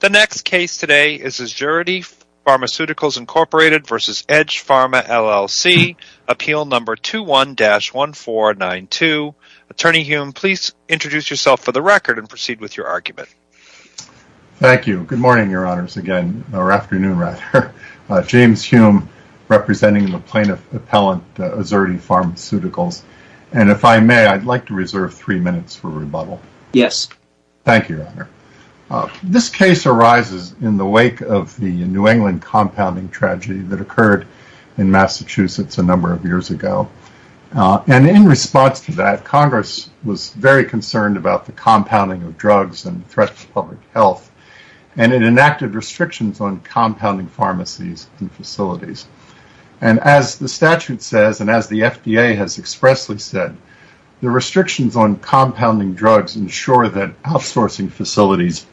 The next case today is Azurity Pharmaceuticals, Inc. v. Edge Pharma, LLC, Appeal Number 21-1492. Attorney Hume, please introduce yourself for the record and proceed with your argument. Thank you. Good morning, Your Honors, again, or afternoon, rather. James Hume, representing the plaintiff appellant, Azurity Pharmaceuticals, and if I may, I'd like to arise in the wake of the New England compounding tragedy that occurred in Massachusetts a number of years ago. In response to that, Congress was very concerned about the compounding of drugs and threats to public health, and it enacted restrictions on compounding pharmacies and facilities. As the statute says, and as the FDA has expressly said, the restrictions on compounding drugs ensure that outsourcing facilities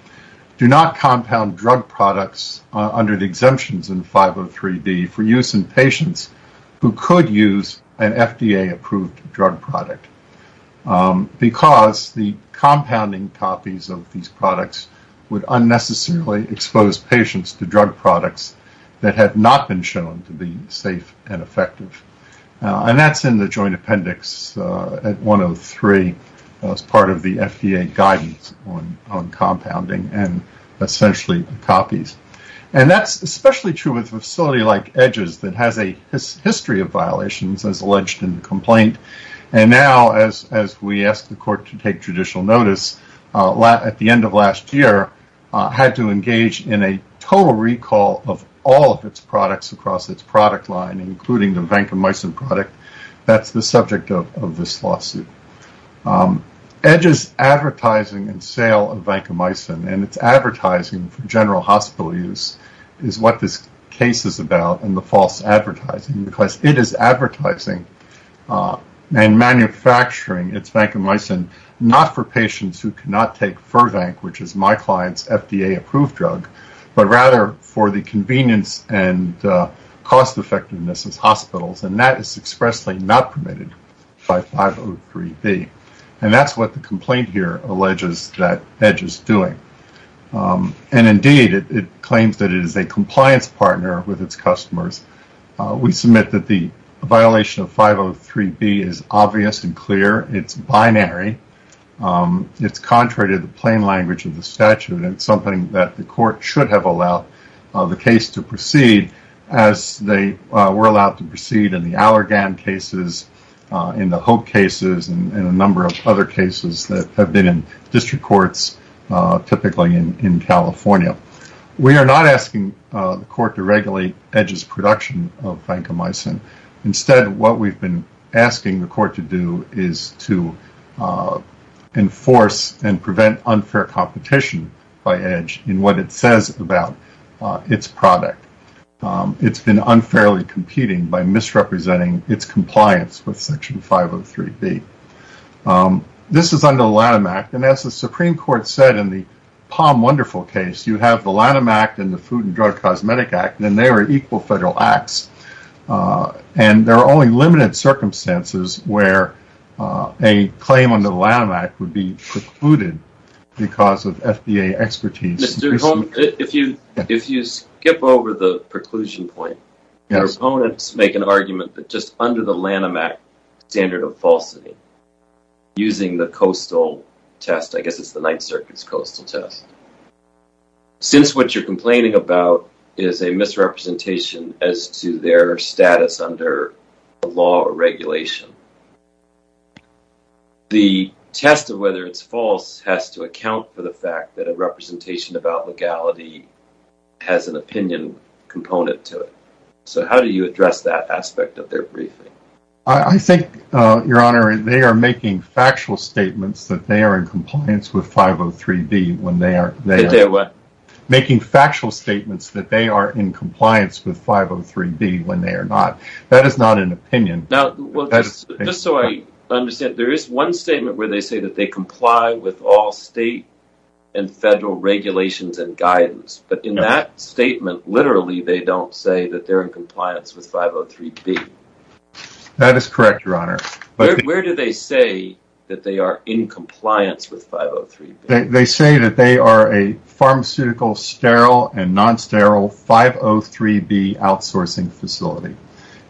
do not compound drug products under the exemptions in 503D for use in patients who could use an FDA-approved drug product because the compounding copies of these products would unnecessarily expose patients to drug products that had not been shown to be safe and effective. And that's in the joint appendix at 103 as part of the FDA guidance on compounding and essentially copies. And that's especially true with a facility like Edge's that has a history of violations as alleged in the complaint, and now, as we asked the court to take judicial notice at the end of last year, had to engage in a total recall of all of its products across its product line, including the vancomycin product, that's the subject of this lawsuit. Edge's advertising and sale of vancomycin and its advertising for general hospital use is what this case is about and the false advertising, because it is advertising and manufacturing its vancomycin not for patients who cannot take Fervanc, which is my client's FDA-approved drug, but rather for the cost-effectiveness as hospitals, and that is expressly not permitted by 503B. And that's what the complaint here alleges that Edge is doing. And indeed, it claims that it is a compliance partner with its customers. We submit that the violation of 503B is obvious and clear. It's binary. It's contrary to the plain language of the statute, and it's something that the court should have allowed the case to proceed as they were allowed to proceed in the Allergan cases, in the Hope cases, and a number of other cases that have been in district courts, typically in California. We are not asking the court to regulate Edge's production of vancomycin. Instead, what we've been asking the court to do is to enforce and prevent unfair competition by Edge in what it says about its product. It's been unfairly competing by misrepresenting its compliance with section 503B. This is under the Lanham Act, and as the Supreme Court said in the Palm Wonderful case, you have the Lanham Act and the Food and Drug Cosmetic Act, and they are equal federal acts. And there are only limited circumstances where a claim under Lanham Act would be precluded because of FDA expertise. If you skip over the preclusion point, proponents make an argument that just under the Lanham Act standard of falsity, using the coastal test, I guess it's the Ninth Circuit's coastal test, since what you're complaining about is a misrepresentation as to their status under law or regulation. The test of whether it's false has to account for the fact that a representation about legality has an opinion component to it. So how do you address that aspect of their briefing? I think, Your Honor, they are making factual statements that they are in compliance with 503B when they are not. Making factual statements that they are in compliance with 503B when they are not. That is not an opinion. Now, just so I understand, there is one statement where they say that they comply with all state and federal regulations and guidance, but in that statement, literally, they don't say that they're in compliance with 503B. That is correct, Your Honor. Where do they say that they are in compliance with 503B? They say that they are a pharmaceutical sterile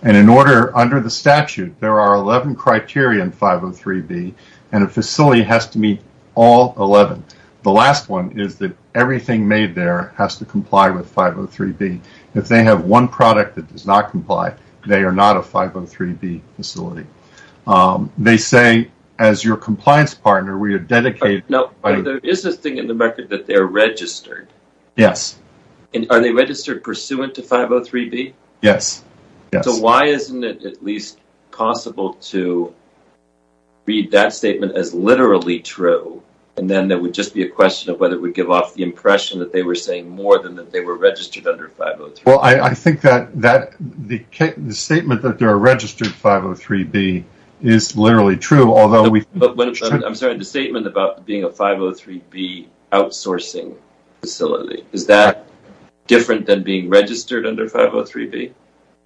and in order, under the statute, there are 11 criteria in 503B and a facility has to meet all 11. The last one is that everything made there has to comply with 503B. If they have one product that does not comply, they are not a 503B facility. They say, as your compliance partner, we are dedicated... Now, there is a thing in the record that they are registered. Yes. And are they Why isn't it at least possible to read that statement as literally true and then there would just be a question of whether we give off the impression that they were saying more than that they were registered under 503B? Well, I think that the statement that they are registered 503B is literally true, although... I'm sorry, the statement about being a 503B outsourcing facility, is that different than being registered under 503B?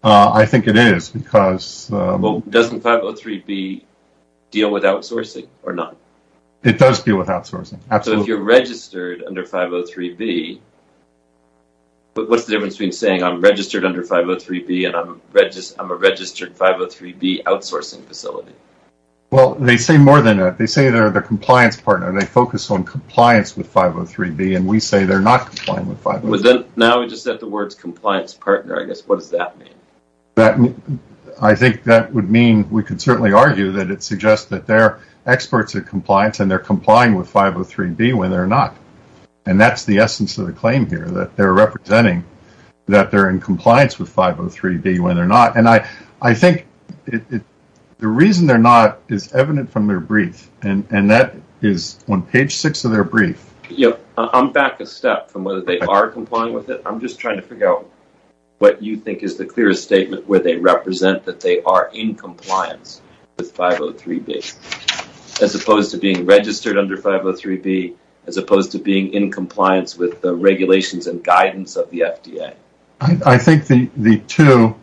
I think it is because... Well, doesn't 503B deal with outsourcing or not? It does deal with outsourcing. Absolutely. So, if you're registered under 503B, what's the difference between saying I'm registered under 503B and I'm a registered 503B outsourcing facility? Well, they say more than that. They are the compliance partner. They focus on compliance with 503B and we say they're not complying with 503B. Now, we just said the words compliance partner, I guess. What does that mean? I think that would mean we could certainly argue that it suggests that they're experts at compliance and they're complying with 503B when they're not. And that's the essence of the claim here, that they're representing that they're in compliance with 503B when they're not. And I that is on page six of their brief. Yeah. I'm back a step from whether they are complying with it. I'm just trying to figure out what you think is the clearest statement where they represent that they are in compliance with 503B, as opposed to being registered under 503B, as opposed to being in compliance with the regulations and guidance of the FDA. I think the two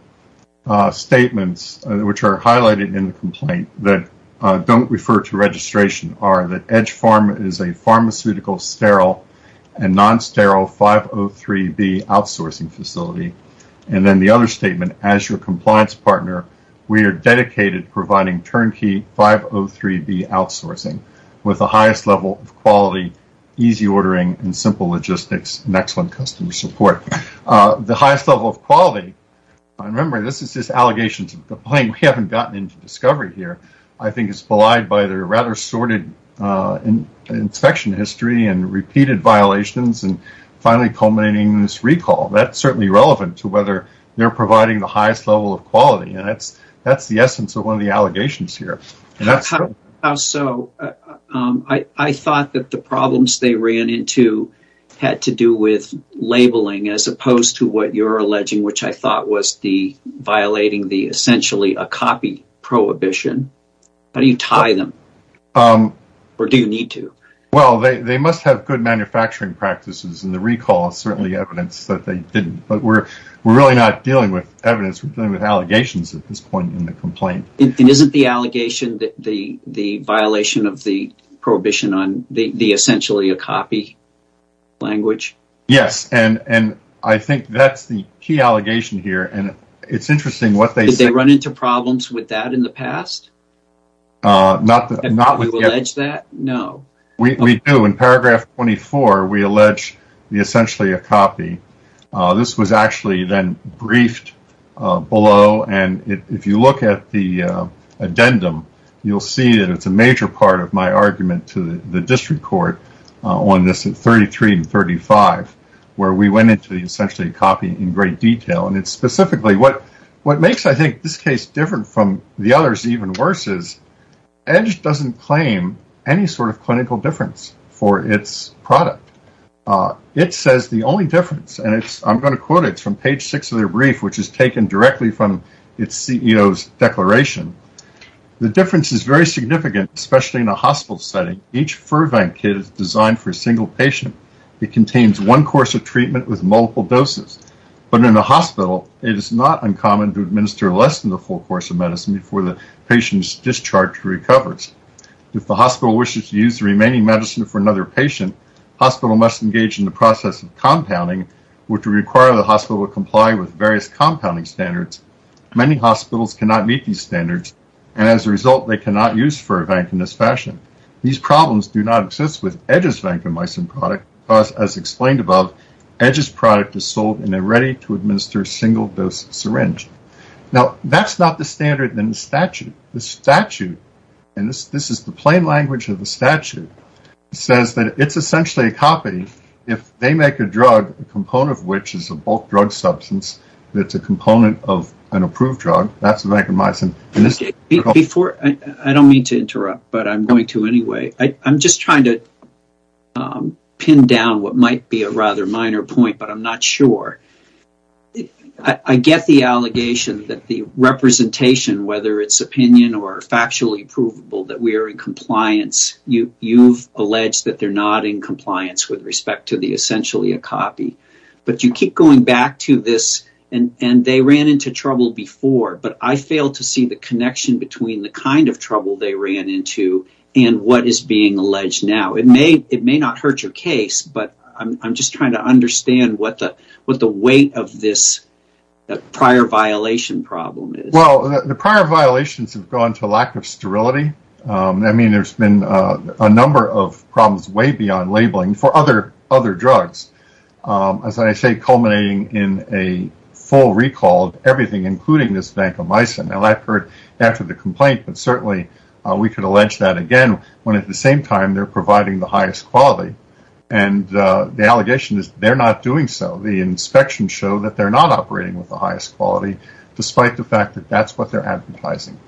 statements which are highlighted in the complaint that don't refer to registration are that Edge Farm is a pharmaceutical, sterile, and non-sterile 503B outsourcing facility. And then the other statement, as your compliance partner, we are dedicated providing turnkey 503B outsourcing with the highest level of quality, easy ordering, and simple logistics, and excellent customer support. The highest level of quality, and remember, this is just allegations of the claim. We haven't gotten into discovery here. I think it's belied by their rather sordid inspection history and repeated violations, and finally culminating in this recall. That's certainly relevant to whether they're providing the highest level of quality, and that's the essence of one of the allegations here. So I thought that the problems they ran into had to do with labeling, as opposed to what you're tying them, or do you need to? Well, they must have good manufacturing practices, and the recall is certainly evidence that they didn't, but we're really not dealing with evidence. We're dealing with allegations at this point in the complaint. Isn't the allegation the violation of the prohibition on the essentially a copy language? Yes, and I think that's the key allegation here, and it's interesting what they say. Did they run into problems with that in the past? Not with the alleged that? No. We do. In paragraph 24, we allege the essentially a copy. This was actually then briefed below, and if you look at the addendum, you'll see that it's a major part of my argument to the district court on this at 33 and 35, where we went into the essentially a copy in great detail, and it's this case different from the others. Even worse is Edge doesn't claim any sort of clinical difference for its product. It says the only difference, and I'm going to quote it from page six of their brief, which is taken directly from its CEO's declaration. The difference is very significant, especially in a hospital setting. Each Furvan kit is designed for a single patient. It contains one course of treatment with multiple doses, but in a hospital, it is not uncommon to administer less than the full course of medicine before the patient is discharged or recovers. If the hospital wishes to use the remaining medicine for another patient, the hospital must engage in the process of compounding, which will require the hospital to comply with various compounding standards. Many hospitals cannot meet these standards, and as a result, they cannot use Furvan in this fashion. These problems do not exist with Edge's vancomycin product, because as explained above, Edge's product is sold and they're ready to administer a single dose syringe. Now, that's not the standard in the statute. The statute, and this is the plain language of the statute, says that it's essentially a copy. If they make a drug, a component of which is a bulk drug substance that's a component of an approved drug, that's vancomycin. I don't mean to interrupt, but I'm going to anyway. I'm just trying to pin down what might be a rather minor point, but I'm not sure. I get the allegation that the representation, whether it's opinion or factually provable, that we are in compliance. You've alleged that they're not in compliance with respect to the essentially a copy, but you keep going back to this, and they ran into trouble before, but I fail to see the connection between the kind of trouble they ran into and what is being alleged now. It may not hurt your case, but I'm just trying to understand what the weight of this prior violation problem is. The prior violations have gone to lack of sterility. There's been a number of problems way beyond labeling for other drugs. As I say, culminating in a full recall of everything, including this vancomycin. I've heard after the complaint, but certainly we could allege that again, when at the same time, they're providing the highest quality. The allegation is they're not doing so. The inspections show that they're not operating with the highest quality, despite the fact that that's what they're advertising.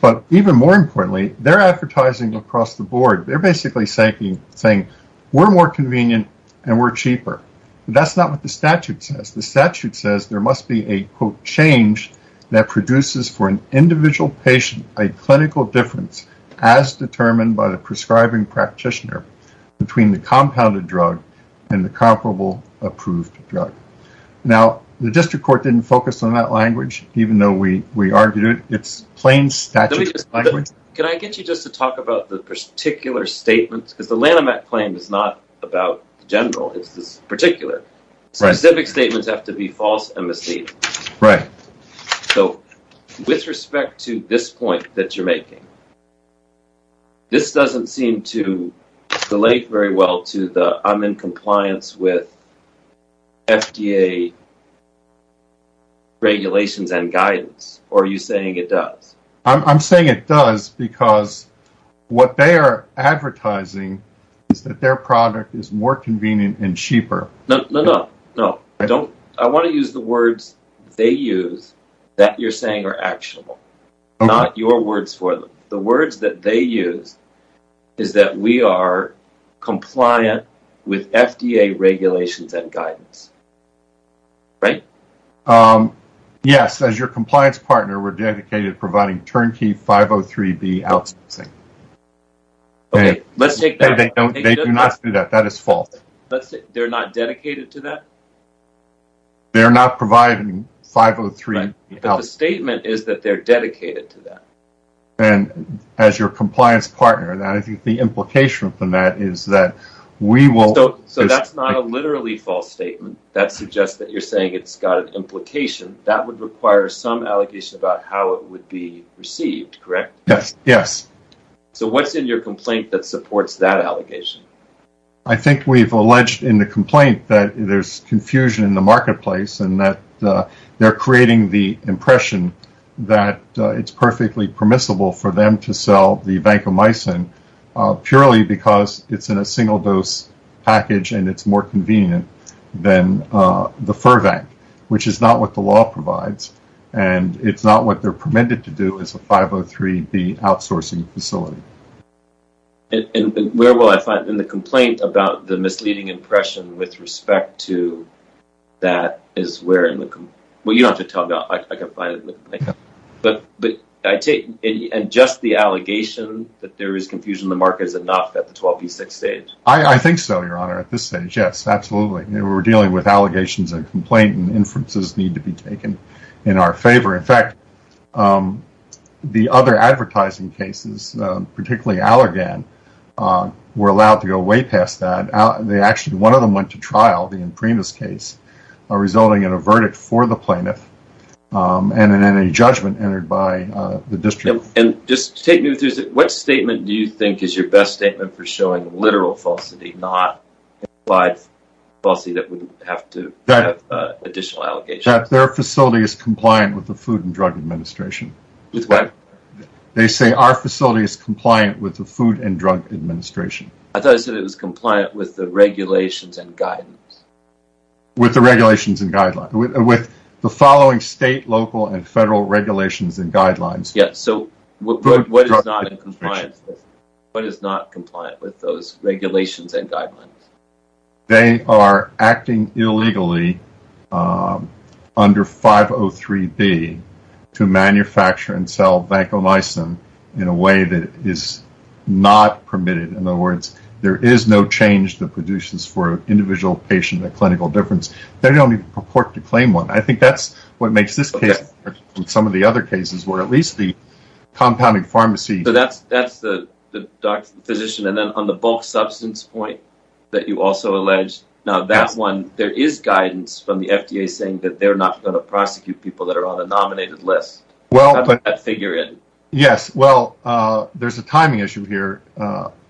But even more importantly, they're advertising across the board. They're basically saying, we're more convenient and we're cheaper, but that's not what the statute says. The statute says there must be a quote, change that produces for an individual patient, a clinical difference as determined by the prescribing practitioner between the compounded drug and the comparable approved drug. Now, the district court didn't focus on that language, even though we argued it. It's plain statute. Can I get you just to talk about the particular statements because the claim is not about the general. It's this particular specific statements have to be false and mislead. Right. So with respect to this point that you're making, this doesn't seem to relate very well to the I'm in compliance with FDA regulations and guidance. Are you saying it does? I'm saying it does because what they are advertising is that their product is more convenient and cheaper. No, no, no, no. I don't. I want to use the words they use that you're saying are actionable, not your words for them. The words that they use is that we are compliant with FDA regulations and guidance. Right. Yes. As your compliance partner, we're dedicated to providing turnkey 503B outsourcing. Let's take that. They do not do that. That is false. They're not dedicated to that. They're not providing 503B outsourcing. But the statement is that they're dedicated to that. And as your compliance partner, I think the implication from that is that we will. So that's not a literally false statement that suggests that you're saying it's got an implication that would require some allegation about how it would be received, correct? Yes. Yes. So what's in your complaint that supports that allegation? I think we've alleged in the complaint that there's confusion in the marketplace and that they're creating the impression that it's perfectly permissible for them to sell the vancomycin purely because it's in a single dose package and it's more convenient than the 503B outsourcing facility. And where will I find in the complaint about the misleading impression with respect to that is where in the... Well, you don't have to tell me. I can find it. But I take it and just the allegation that there is confusion in the market is enough at the 12B6 stage. I think so, your honor, at this stage. Yes, absolutely. We're dealing with allegations and complaint and inferences need to be taken in our favor. In fact, the other advertising cases, particularly Allergan, were allowed to go way past that. Actually, one of them went to trial, the Imprimis case, resulting in a verdict for the plaintiff and then a judgment entered by the district. And just to take me through, what statement do you think is your best statement for additional allegations? That their facility is compliant with the Food and Drug Administration. With what? They say our facility is compliant with the Food and Drug Administration. I thought I said it was compliant with the regulations and guidance. With the regulations and guidelines. With the following state, local, and federal regulations and guidelines. Yes, so what is not in compliance? What is not compliant with those regulations and guidelines? They are acting illegally under 503B to manufacture and sell vancomycin in a way that is not permitted. In other words, there is no change that produces for an individual patient a clinical difference. They don't even purport to claim one. I think that's what makes this case different from some of the other cases where at least the you also alleged. Now that one, there is guidance from the FDA saying that they're not going to prosecute people that are on a nominated list. Well, but figure it. Yes, well, there's a timing issue here.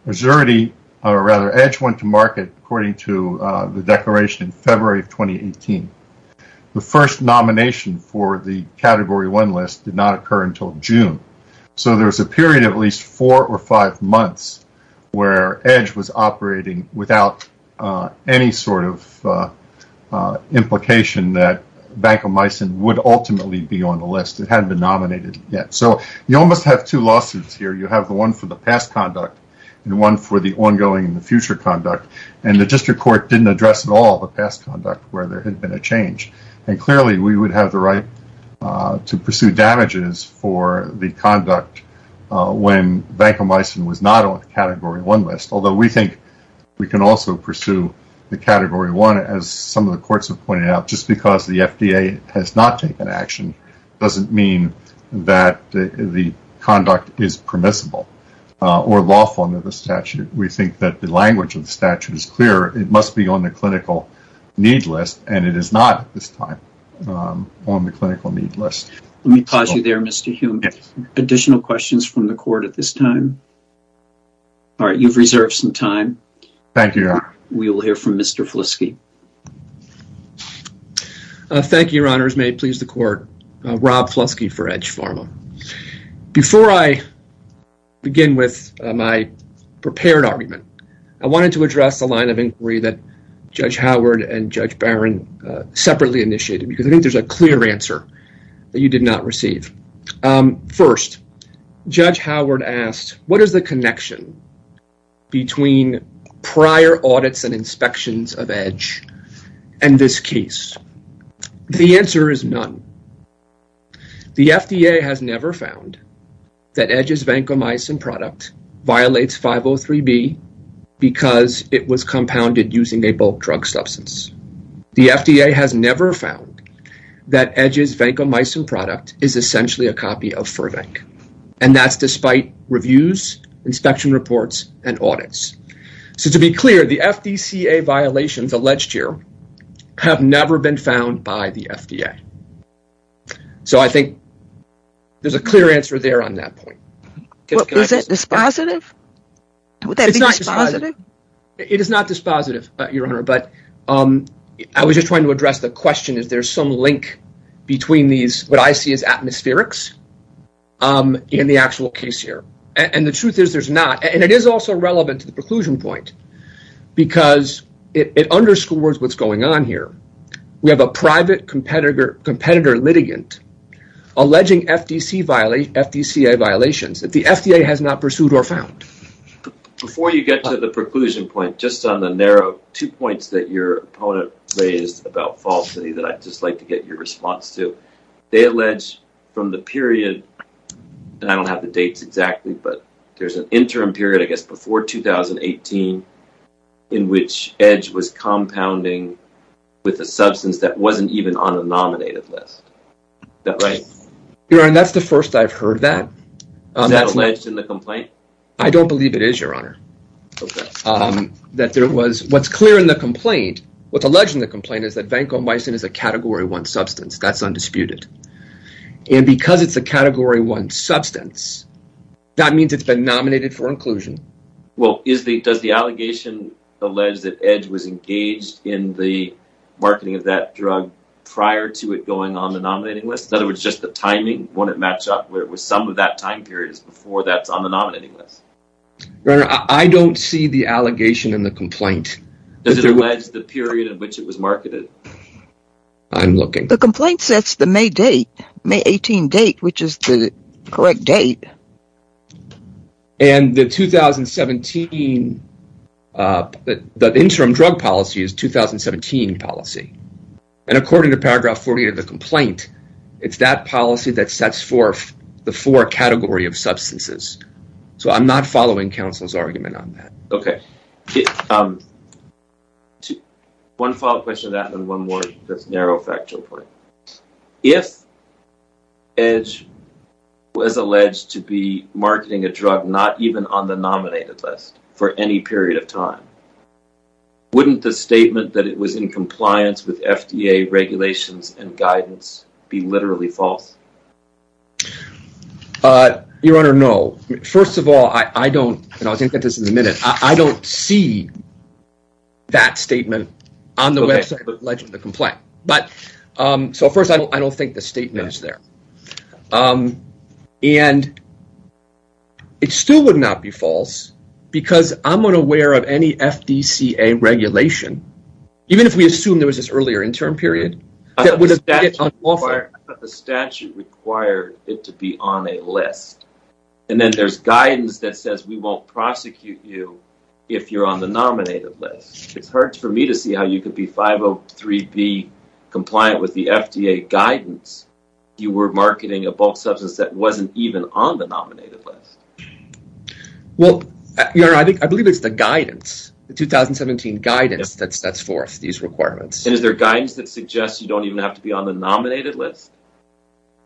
Resurity, or rather, EDGE went to market according to the declaration in February of 2018. The first nomination for the Category 1 list did not occur until June. There's a period of at least four or five months where EDGE was operating without any sort of implication that vancomycin would ultimately be on the list. It hadn't been nominated yet. You almost have two lawsuits here. You have the one for the past conduct and one for the ongoing and the future conduct. The district court didn't address at all the past conduct where there had been a change. Clearly, we would have the right to pursue damages for the conduct when vancomycin was not on the Category 1 list. Although we think we can also pursue the Category 1 as some of the courts have pointed out, just because the FDA has not taken action doesn't mean that the conduct is permissible or lawful under the statute. We think that the language of the statute is clear. It must be on the clinical need list and it is not at this time on the clinical need list. Let me pause you there, Mr. Hume. Additional questions from the court at this time? All right, you've reserved some time. Thank you, Your Honor. We will hear from Mr. Fliske. Thank you, Your Honors. May it please the court. Rob Fliske for EDGE Pharma. Before I with my prepared argument, I wanted to address a line of inquiry that Judge Howard and Judge Barron separately initiated because I think there's a clear answer that you did not receive. First, Judge Howard asked, what is the connection between prior audits and inspections of EDGE and this case? The answer is none. The FDA has never found that EDGE's vancomycin product violates 503B because it was compounded using a bulk drug substance. The FDA has never found that EDGE's vancomycin product is essentially a copy of Furvank and that's despite reviews, inspection reports, and audits. So, to be clear, the FDCA violations alleged here have never been found by the FDA. So, I think there's a clear answer there on that point. Is it dispositive? Would that be dispositive? It is not dispositive, Your Honor, but I was just trying to address the question. Is there some link between these, what I see as atmospherics in the actual case here? The truth is there's not. It is also relevant to the preclusion point because it underscores what's going on here. We have a private competitor litigant alleging FDCA violations that the FDA has not pursued or found. Before you get to the preclusion point, just on the narrow two points that your opponent raised about falsity that I'd just like to get your response to, they allege from the period, and I don't have the dates exactly, but there's an interim period, I guess before 2018, in which EDGE was compounding with a substance that wasn't even on the nominative list. Is that right? Your Honor, that's the first I've heard that. Is that alleged in the complaint? I don't believe it is, Your Honor. Okay. That there was, what's clear in the complaint, what's alleged in the complaint is that vancomycin is a category one substance. That's undisputed. And because it's a category one substance, that means it's been nominated for inclusion. Well, does the allegation allege that EDGE was engaged in the marketing of that drug prior to it going on the nominating list? In other words, just the timing, wouldn't it match up with some of that time period before that's on the nominating list? Your Honor, I don't see the allegation in the complaint. Does it allege the period in which it was marketed? I'm looking. The complaint sets the May date, May 18 date, which is the correct date. And the 2017, the interim drug policy is 2017 policy. And according to paragraph 40 of the argument on that. Okay. One follow-up question to that and then one more that's a narrow factual point. If EDGE was alleged to be marketing a drug not even on the nominated list for any period of time, wouldn't the statement that it was in compliance with FDA regulations and guidance be literally false? Your Honor, no. First of all, I don't, and I was going to get this in a minute, I don't see that statement on the website of the allegation of the complaint. So first, I don't think the statement is there. And it still would not be false because I'm unaware of any FDCA regulation, even if we assume there was this earlier interim period, that would have been unlawful. I thought the statute required it to be on a list. And then there's guidance that says we won't prosecute you if you're on the nominated list. It's hard for me to see how you could be 503B compliant with the FDA guidance. You were marketing a bulk substance that wasn't even on the nominated list. Well, Your Honor, I think, I believe it's the guidance, the 2017 guidance that sets forth these requirements. And is there guidance that suggests you don't even have to be on the nominated list?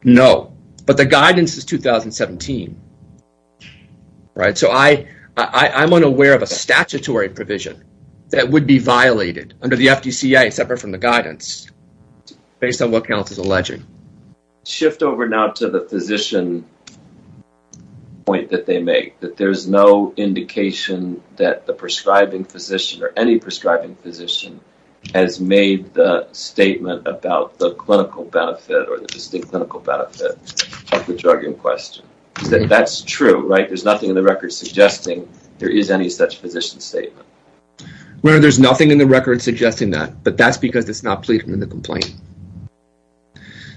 No, but the guidance is 2017, right? So I'm unaware of a statutory provision that would be violated under the FDCA, separate from the guidance, based on what counts as alleging. Shift over now to the physician point that they make, that there's no indication that the prescribing physician or any prescribing physician has made the statement about the clinical benefit or the distinct clinical benefit of the drug in question. That's true, right? There's nothing in the record suggesting there is any such physician statement. No, there's nothing in the record suggesting that, but that's because it's not pleaded in the complaint.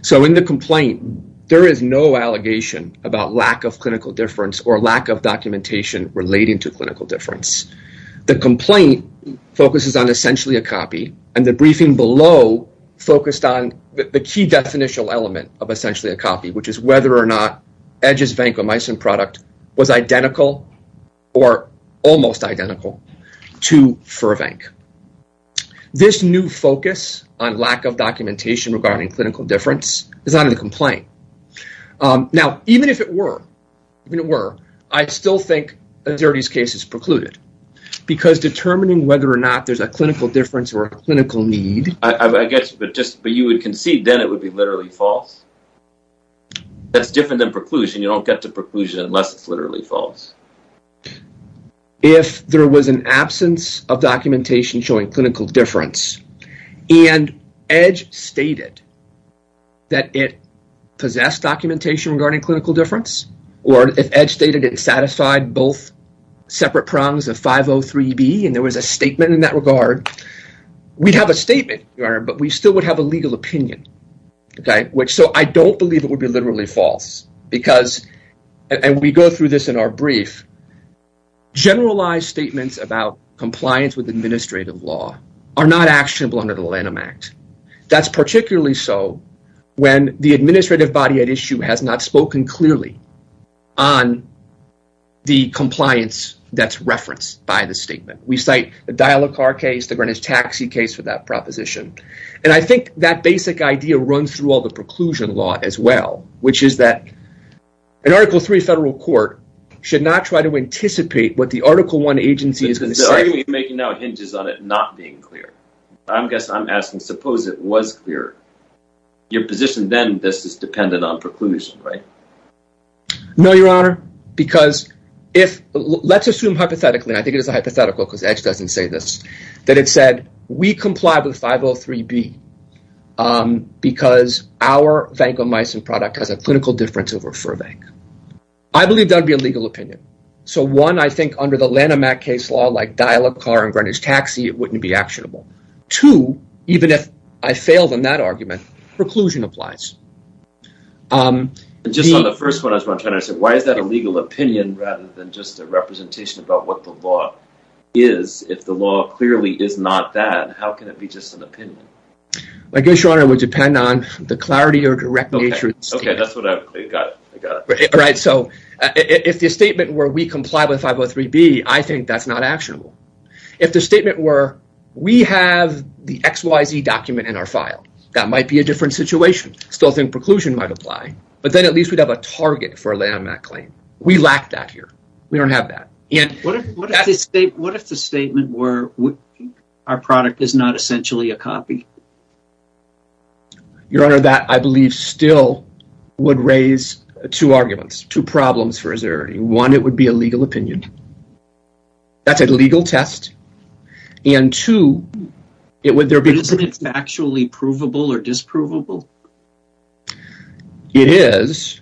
So in the complaint, there is no allegation about lack of clinical difference or lack of documentation relating to clinical difference. The complaint focuses on essentially a copy and the briefing below focused on the key definitional element of essentially a copy, which is whether or not Edge's vancomycin product was identical or almost identical to Furvank. This new focus on lack of documentation regarding clinical difference is not in the complaint. Now, even if it were, even if it were, I still think a Xerdes case is precluded because determining whether or not there's a clinical difference or a clinical need... I guess, but just, but you would concede then it would be literally false. That's different than preclusion. You don't get to preclusion unless it's literally false. If there was an absence of documentation showing clinical difference and Edge stated that it possessed documentation regarding clinical difference, or if Edge stated it satisfied both separate prongs of 503B and there was a statement in that regard, we'd have a statement, Your Honor, but we still would have a legal opinion, okay? Which, so I don't believe it would be literally false because, and we go through this in our brief, generalized statements about compliance with administrative law are not actionable under the Lanham Act. That's particularly so when the administrative body at clearly on the compliance that's referenced by the statement. We cite the Dial-a-Car case, the Greenwich Taxi case for that proposition, and I think that basic idea runs through all the preclusion law as well, which is that an Article III federal court should not try to anticipate what the Article I agency is going to say. The argument you're making now hinges on it not being clear. I'm guessing, I'm asking, suppose it was clear. Your position then, this is dependent on preclusion, right? No, Your Honor, because if, let's assume hypothetically, I think it is a hypothetical because Edge doesn't say this, that it said, we comply with 503B because our vancomycin product has a clinical difference over Furvank. I believe that would be a legal opinion. So one, I think under the Lanham Act case law, like Dial-a-Car and Greenwich Taxi, it wouldn't be actionable. Two, even if I failed on that one. Just on the first one, I was wondering, why is that a legal opinion rather than just a representation about what the law is? If the law clearly is not that, how can it be just an opinion? I guess, Your Honor, it would depend on the clarity or direct nature. Okay, that's what I've got. I got it. Right, so if the statement were, we comply with 503B, I think that's not actionable. If the statement were, we have the XYZ document in our file, that might be a different situation. Still think preclusion might apply, but then at least we'd have a target for a Lanham Act claim. We lack that here. We don't have that. What if the statement were, our product is not essentially a copy? Your Honor, that I believe still would raise two arguments, two problems for us. One, it would be a legal opinion. That's a legal test. And two, it would there be... It is.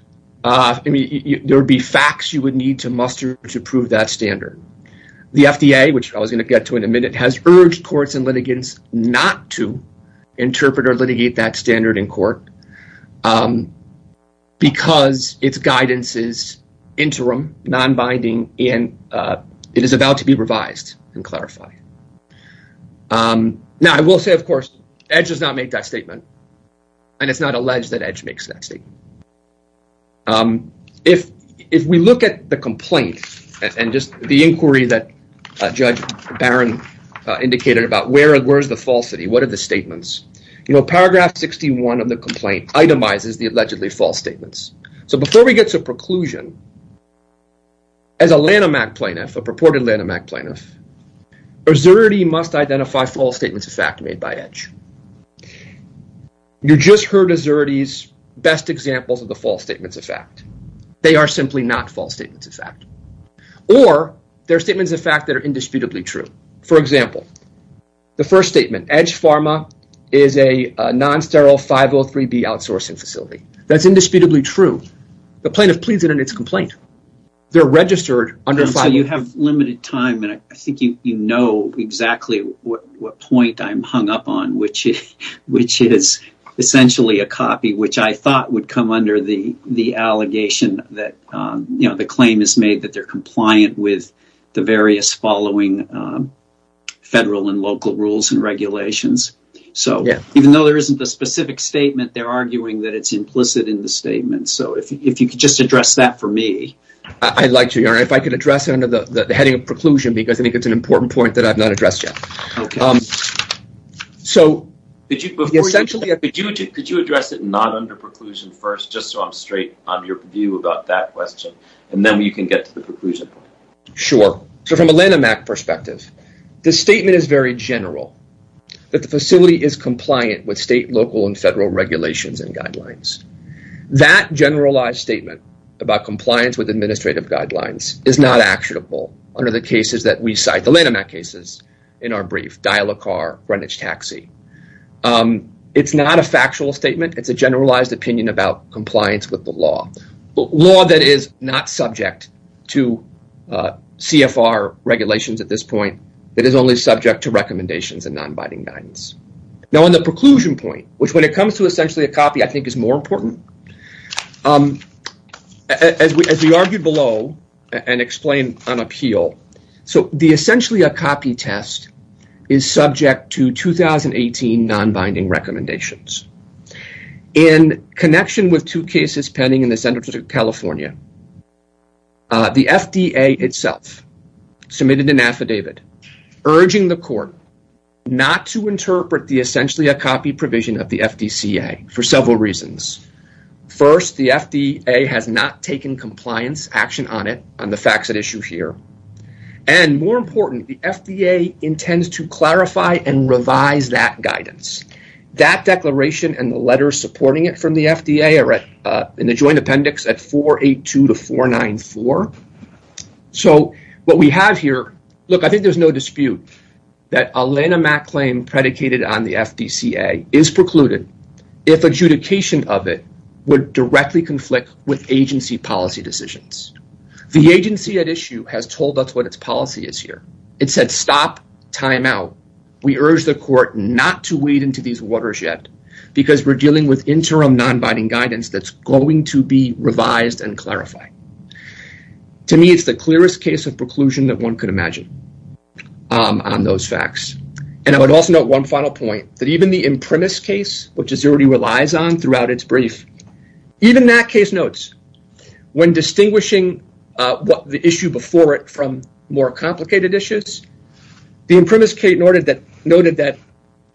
There would be facts you would need to muster to prove that standard. The FDA, which I was going to get to in a minute, has urged courts and litigants not to interpret or litigate that standard in court because its guidance is interim, non-binding, and it is about to be revised and clarified. Now, I will say, of course, Edge does not make that and it's not alleged that Edge makes that statement. If we look at the complaint and just the inquiry that Judge Barron indicated about where is the falsity, what are the statements? Paragraph 61 of the complaint itemizes the allegedly false statements. So before we get to a preclusion, as a Lanham Act plaintiff, a purported Lanham Act plaintiff, a Xerde must identify false statements of fact made by Edge. You just heard a Xerde's best examples of the false statements of fact. They are simply not false statements of fact, or they're statements of fact that are indisputably true. For example, the first statement, Edge Pharma is a non-sterile 503B outsourcing facility. That's indisputably true. The plaintiff pleads it in its complaint. They're registered under... I think you know exactly what point I'm hung up on, which is essentially a copy, which I thought would come under the allegation that the claim is made that they're compliant with the various following federal and local rules and regulations. Even though there isn't a specific statement, they're arguing that it's implicit in the statement. If you could just address that for me, because I think it's an important point that I've not addressed yet. Could you address it not under preclusion first, just so I'm straight on your view about that question, and then you can get to the preclusion point? Sure. From a Lanham Act perspective, the statement is very general, that the facility is compliant with state, local, and federal regulations and guidelines. That generalized statement about compliance with administrative guidelines is not actionable under the cases that we cite, the Lanham Act cases in our brief, Dial-a-Car, Greenwich Taxi. It's not a factual statement. It's a generalized opinion about compliance with the law. Law that is not subject to CFR regulations at this point. It is only subject to recommendations and non-binding guidance. Now on the preclusion point, which when it comes to essentially a copy, I think is more important. As we argued below, and explained on appeal, the essentially a copy test is subject to 2018 non-binding recommendations. In connection with two cases pending in the center of California, the FDA itself submitted an affidavit urging the court not to interpret the essentially a compliance action on it, on the facts at issue here. More importantly, the FDA intends to clarify and revise that guidance. That declaration and the letters supporting it from the FDA are in the joint appendix at 482 to 494. What we have here, look, I think there's no dispute that a Lanham Act claim predicated on the FDCA is precluded if adjudication of it would directly conflict with agency policy decisions. The agency at issue has told us what its policy is here. It said, stop, time out. We urge the court not to wade into these waters yet, because we're dealing with interim non-binding guidance that's going to be revised and clarified. To me, it's the clearest case of preclusion that one could imagine on those facts. I would also note one final point that even the impremise case, which is already relies on throughout its brief, even that case notes when distinguishing the issue before it from more complicated issues, the impremise case noted that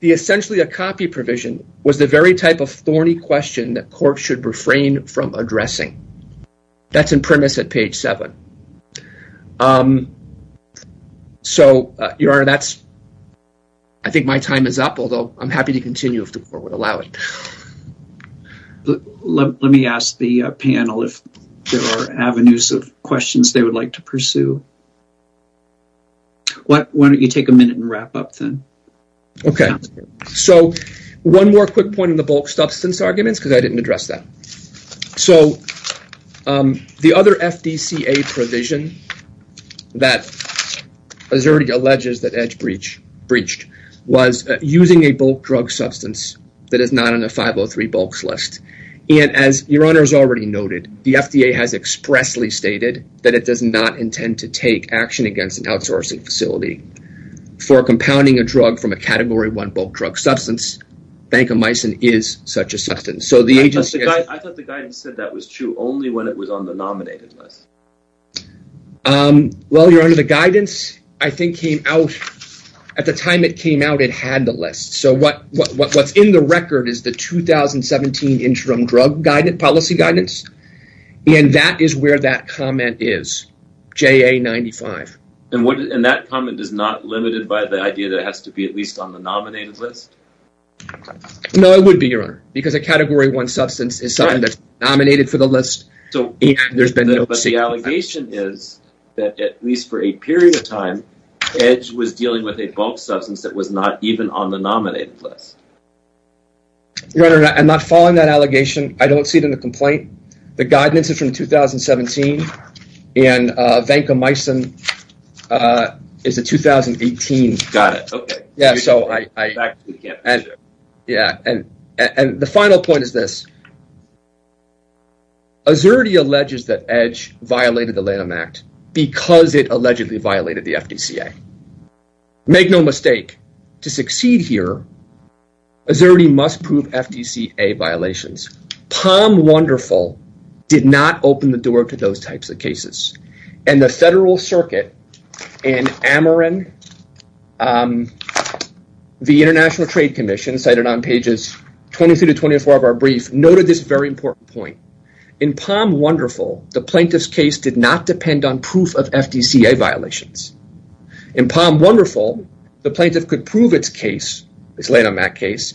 the essentially a copy provision was the very type of thorny question that court should refrain from addressing. That's impremise at page seven. So, your honor, that's, I think my time is up, although I'm happy to continue if the court would allow it. Let me ask the panel if there are avenues of questions they would like to pursue. Why don't you take a minute and wrap up then? Okay. So, one more quick point in the bulk substance arguments, because I didn't address that. So, the other FDCA provision that already alleges that EDGE breached was using a bulk drug substance that is not on a 503 bulks list. And as your honor has already noted, the FDA has expressly stated that it does not intend to take action against an outsourcing facility for compounding a drug from a category one bulk drug substance. Vancomycin is such a substance. So, the agency... I thought the guidance said that was true only when it was on the nominated list. Well, your honor, the guidance, I think, came out at the time it came out, it had the list. So, what's in the record is the 2017 interim drug policy guidance. And that is where that comment is, JA95. And that comment is not limited by the idea that it has to be at least on the nominated list? No, it would be, your honor, because a category one substance is something that's nominated for the list. So, the allegation is that at least for a period of time, EDGE was dealing with a bulk substance that was not even on the nominated list. Your honor, I'm not following that allegation. I don't see it in the complaint. The guidance is from 2017 and Vancomycin is a 2018. Got it. Okay. Yeah. So, I... Yeah. And the final point is this. Azzurri alleges that EDGE violated the Lanham Act because it allegedly violated the FDCA. Make no mistake, to succeed here, Azzurri must prove FDCA violations. Palm Wonderful did not open the door to those types of cases. And the Federal Circuit in Ameren the International Trade Commission cited on pages 23 to 24 of our brief noted this very important point. In Palm Wonderful, the plaintiff's case did not depend on proof of FDCA violations. In Palm Wonderful, the plaintiff could prove its Lanham Act case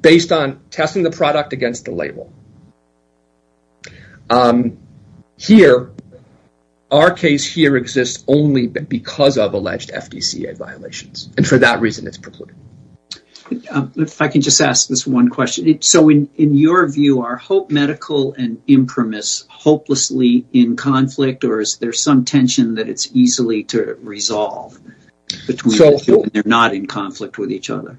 based on testing the product against the label. Here, our case here exists only because of alleged FDCA violations. And for that If I can just ask this one question. So, in your view, are Hope Medical and Imprimis hopelessly in conflict? Or is there some tension that it's easily to resolve between they're not in conflict with each other?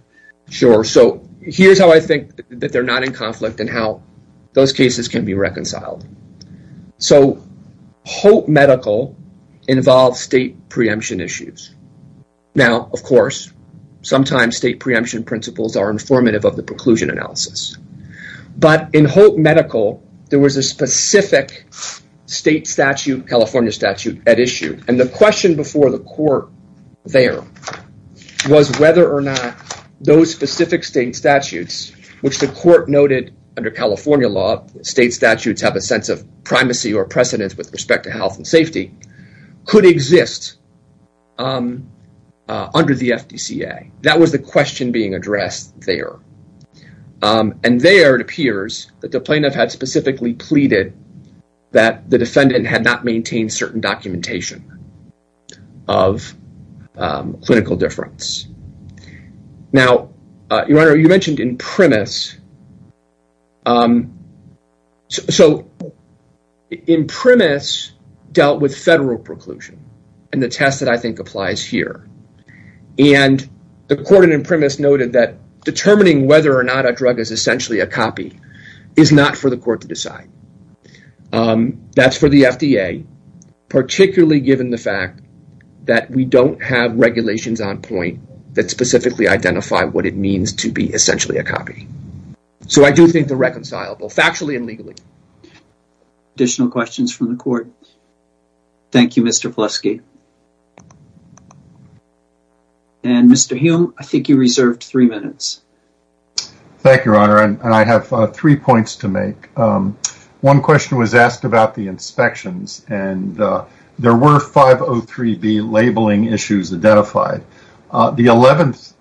Sure. So, here's how I think that they're not in conflict and how those cases can be reconciled. So, Hope Medical involves state preemption issues. Now, of course, sometimes state preemption principles are informative of the preclusion analysis. But in Hope Medical, there was a specific state statute, California statute, at issue. And the question before the court there was whether or not those specific state statutes, which the court noted under California law, state statutes have a sense of primacy or under the FDCA. That was the question being addressed there. And there it appears that the plaintiff had specifically pleaded that the defendant had not maintained certain documentation of clinical difference. Now, your Honor, you mentioned Imprimis. So, Imprimis dealt with federal preclusion, and the test that I think applies here. And the court in Imprimis noted that determining whether or not a drug is essentially a copy is not for the court to decide. That's for the FDA, particularly given the fact that we don't have regulations on point that specifically identify what it means to be essentially a copy. So, I do think they're reconcilable, factually and legally. Additional questions from the court? Thank you, Mr. Vlesky. And Mr. Hume, I think you reserved three minutes. Thank you, Your Honor. And I have three points to make. One question was asked about the inspections, and there were 503B labeling issues identified. The 11th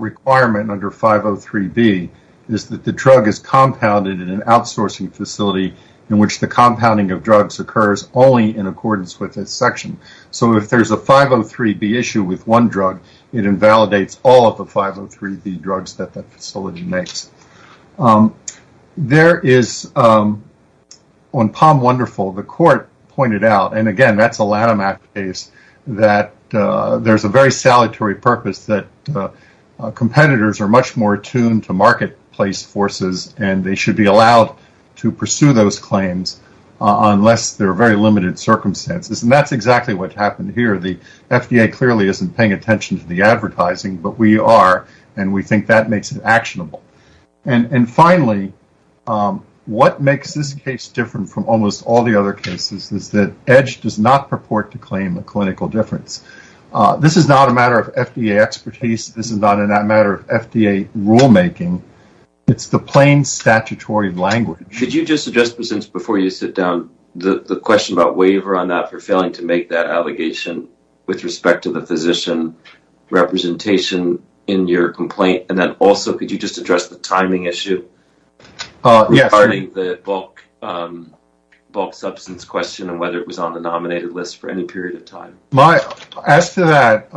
requirement under 503B is that the drug is compounded in an outsourcing facility in which the compounding of drugs occurs only in accordance with a section. So, if there's a 503B issue with one drug, it invalidates all of the 503B drugs that the facility makes. There is, on Palm Wonderful, the court pointed out, and again, that's a LATIMAC case, that there's a very salutary purpose that competitors are much more attuned to marketplace forces, and they should be allowed to pursue those claims unless there are very limited circumstances. And that's exactly what happened here. The FDA clearly isn't paying attention to the advertising, but we are, and we think that makes it actionable. And finally, what makes this case different from almost all the other cases is that EDGE does not purport to claim a clinical difference. This is not a matter of FDA expertise. This is not a matter of FDA rulemaking. It's the plain statutory language. Could you just suggest, before you sit down, the question about waiver on that for failing to make that allegation with respect to the physician representation in your complaint? And then also, could you just address the timing issue regarding the bulk substance question and whether it was on the nominated list for any period of time? As to that,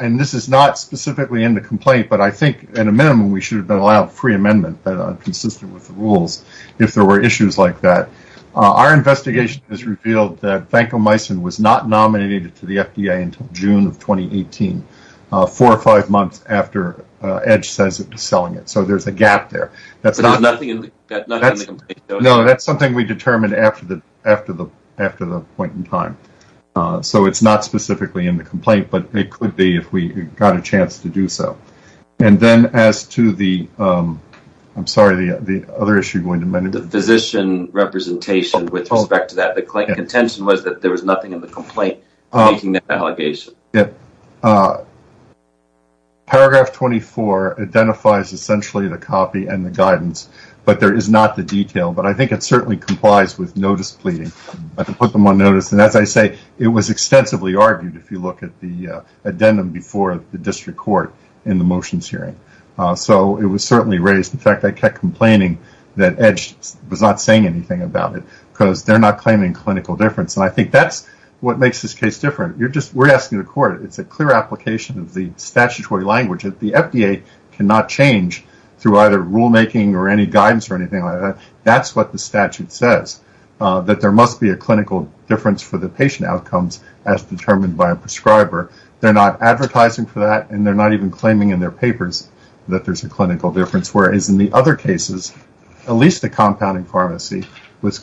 and this is not specifically in the complaint, but I think, at a minimum, we should have been allowed free amendment, consistent with the rules, if there were issues like that. Our investigation has revealed that vancomycin was not nominated to the FDA until June of 2018, four or five months after EDGE says it was selling it. So, there's a gap there. But there's nothing in the complaint? No, that's something we determined after the point in time. So, it's not specifically in the complaint, but it could be if we got a chance to do so. And then, as to the, I'm sorry, the other issue you wanted to mention? The physician representation with respect to that. The contention was that there was nothing in the making that allegation. Yeah. Paragraph 24 identifies essentially the copy and the guidance, but there is not the detail. But I think it certainly complies with notice pleading. I can put them on notice. And as I say, it was extensively argued, if you look at the addendum before the district court in the motions hearing. So, it was certainly raised. In fact, I kept complaining that EDGE was not saying anything about it because they're not claiming clinical difference. And I think that's what makes this case different. You're just, we're asking the court. It's a clear application of the statutory language that the FDA cannot change through either rulemaking or any guidance or anything like that. That's what the statute says, that there must be a clinical difference for the patient outcomes as determined by a prescriber. They're not advertising for that. And they're not even claiming in their papers that there's a clinical difference. Whereas in the other cases, at least the compounding pharmacy was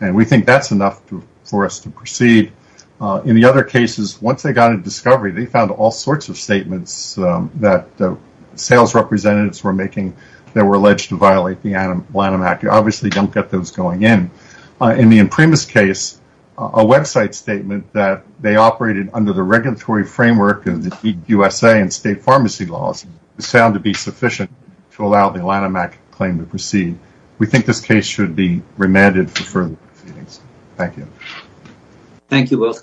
and we think that's enough for us to proceed. In the other cases, once they got a discovery, they found all sorts of statements that the sales representatives were making, they were alleged to violate the Lanham Act. You obviously don't get those going in. In the Imprimis case, a website statement that they operated under the regulatory framework and the USA and state pharmacy laws sound to be sufficient to allow the Lanham Act claim to be approved. Thank you. Thank you both, counsel.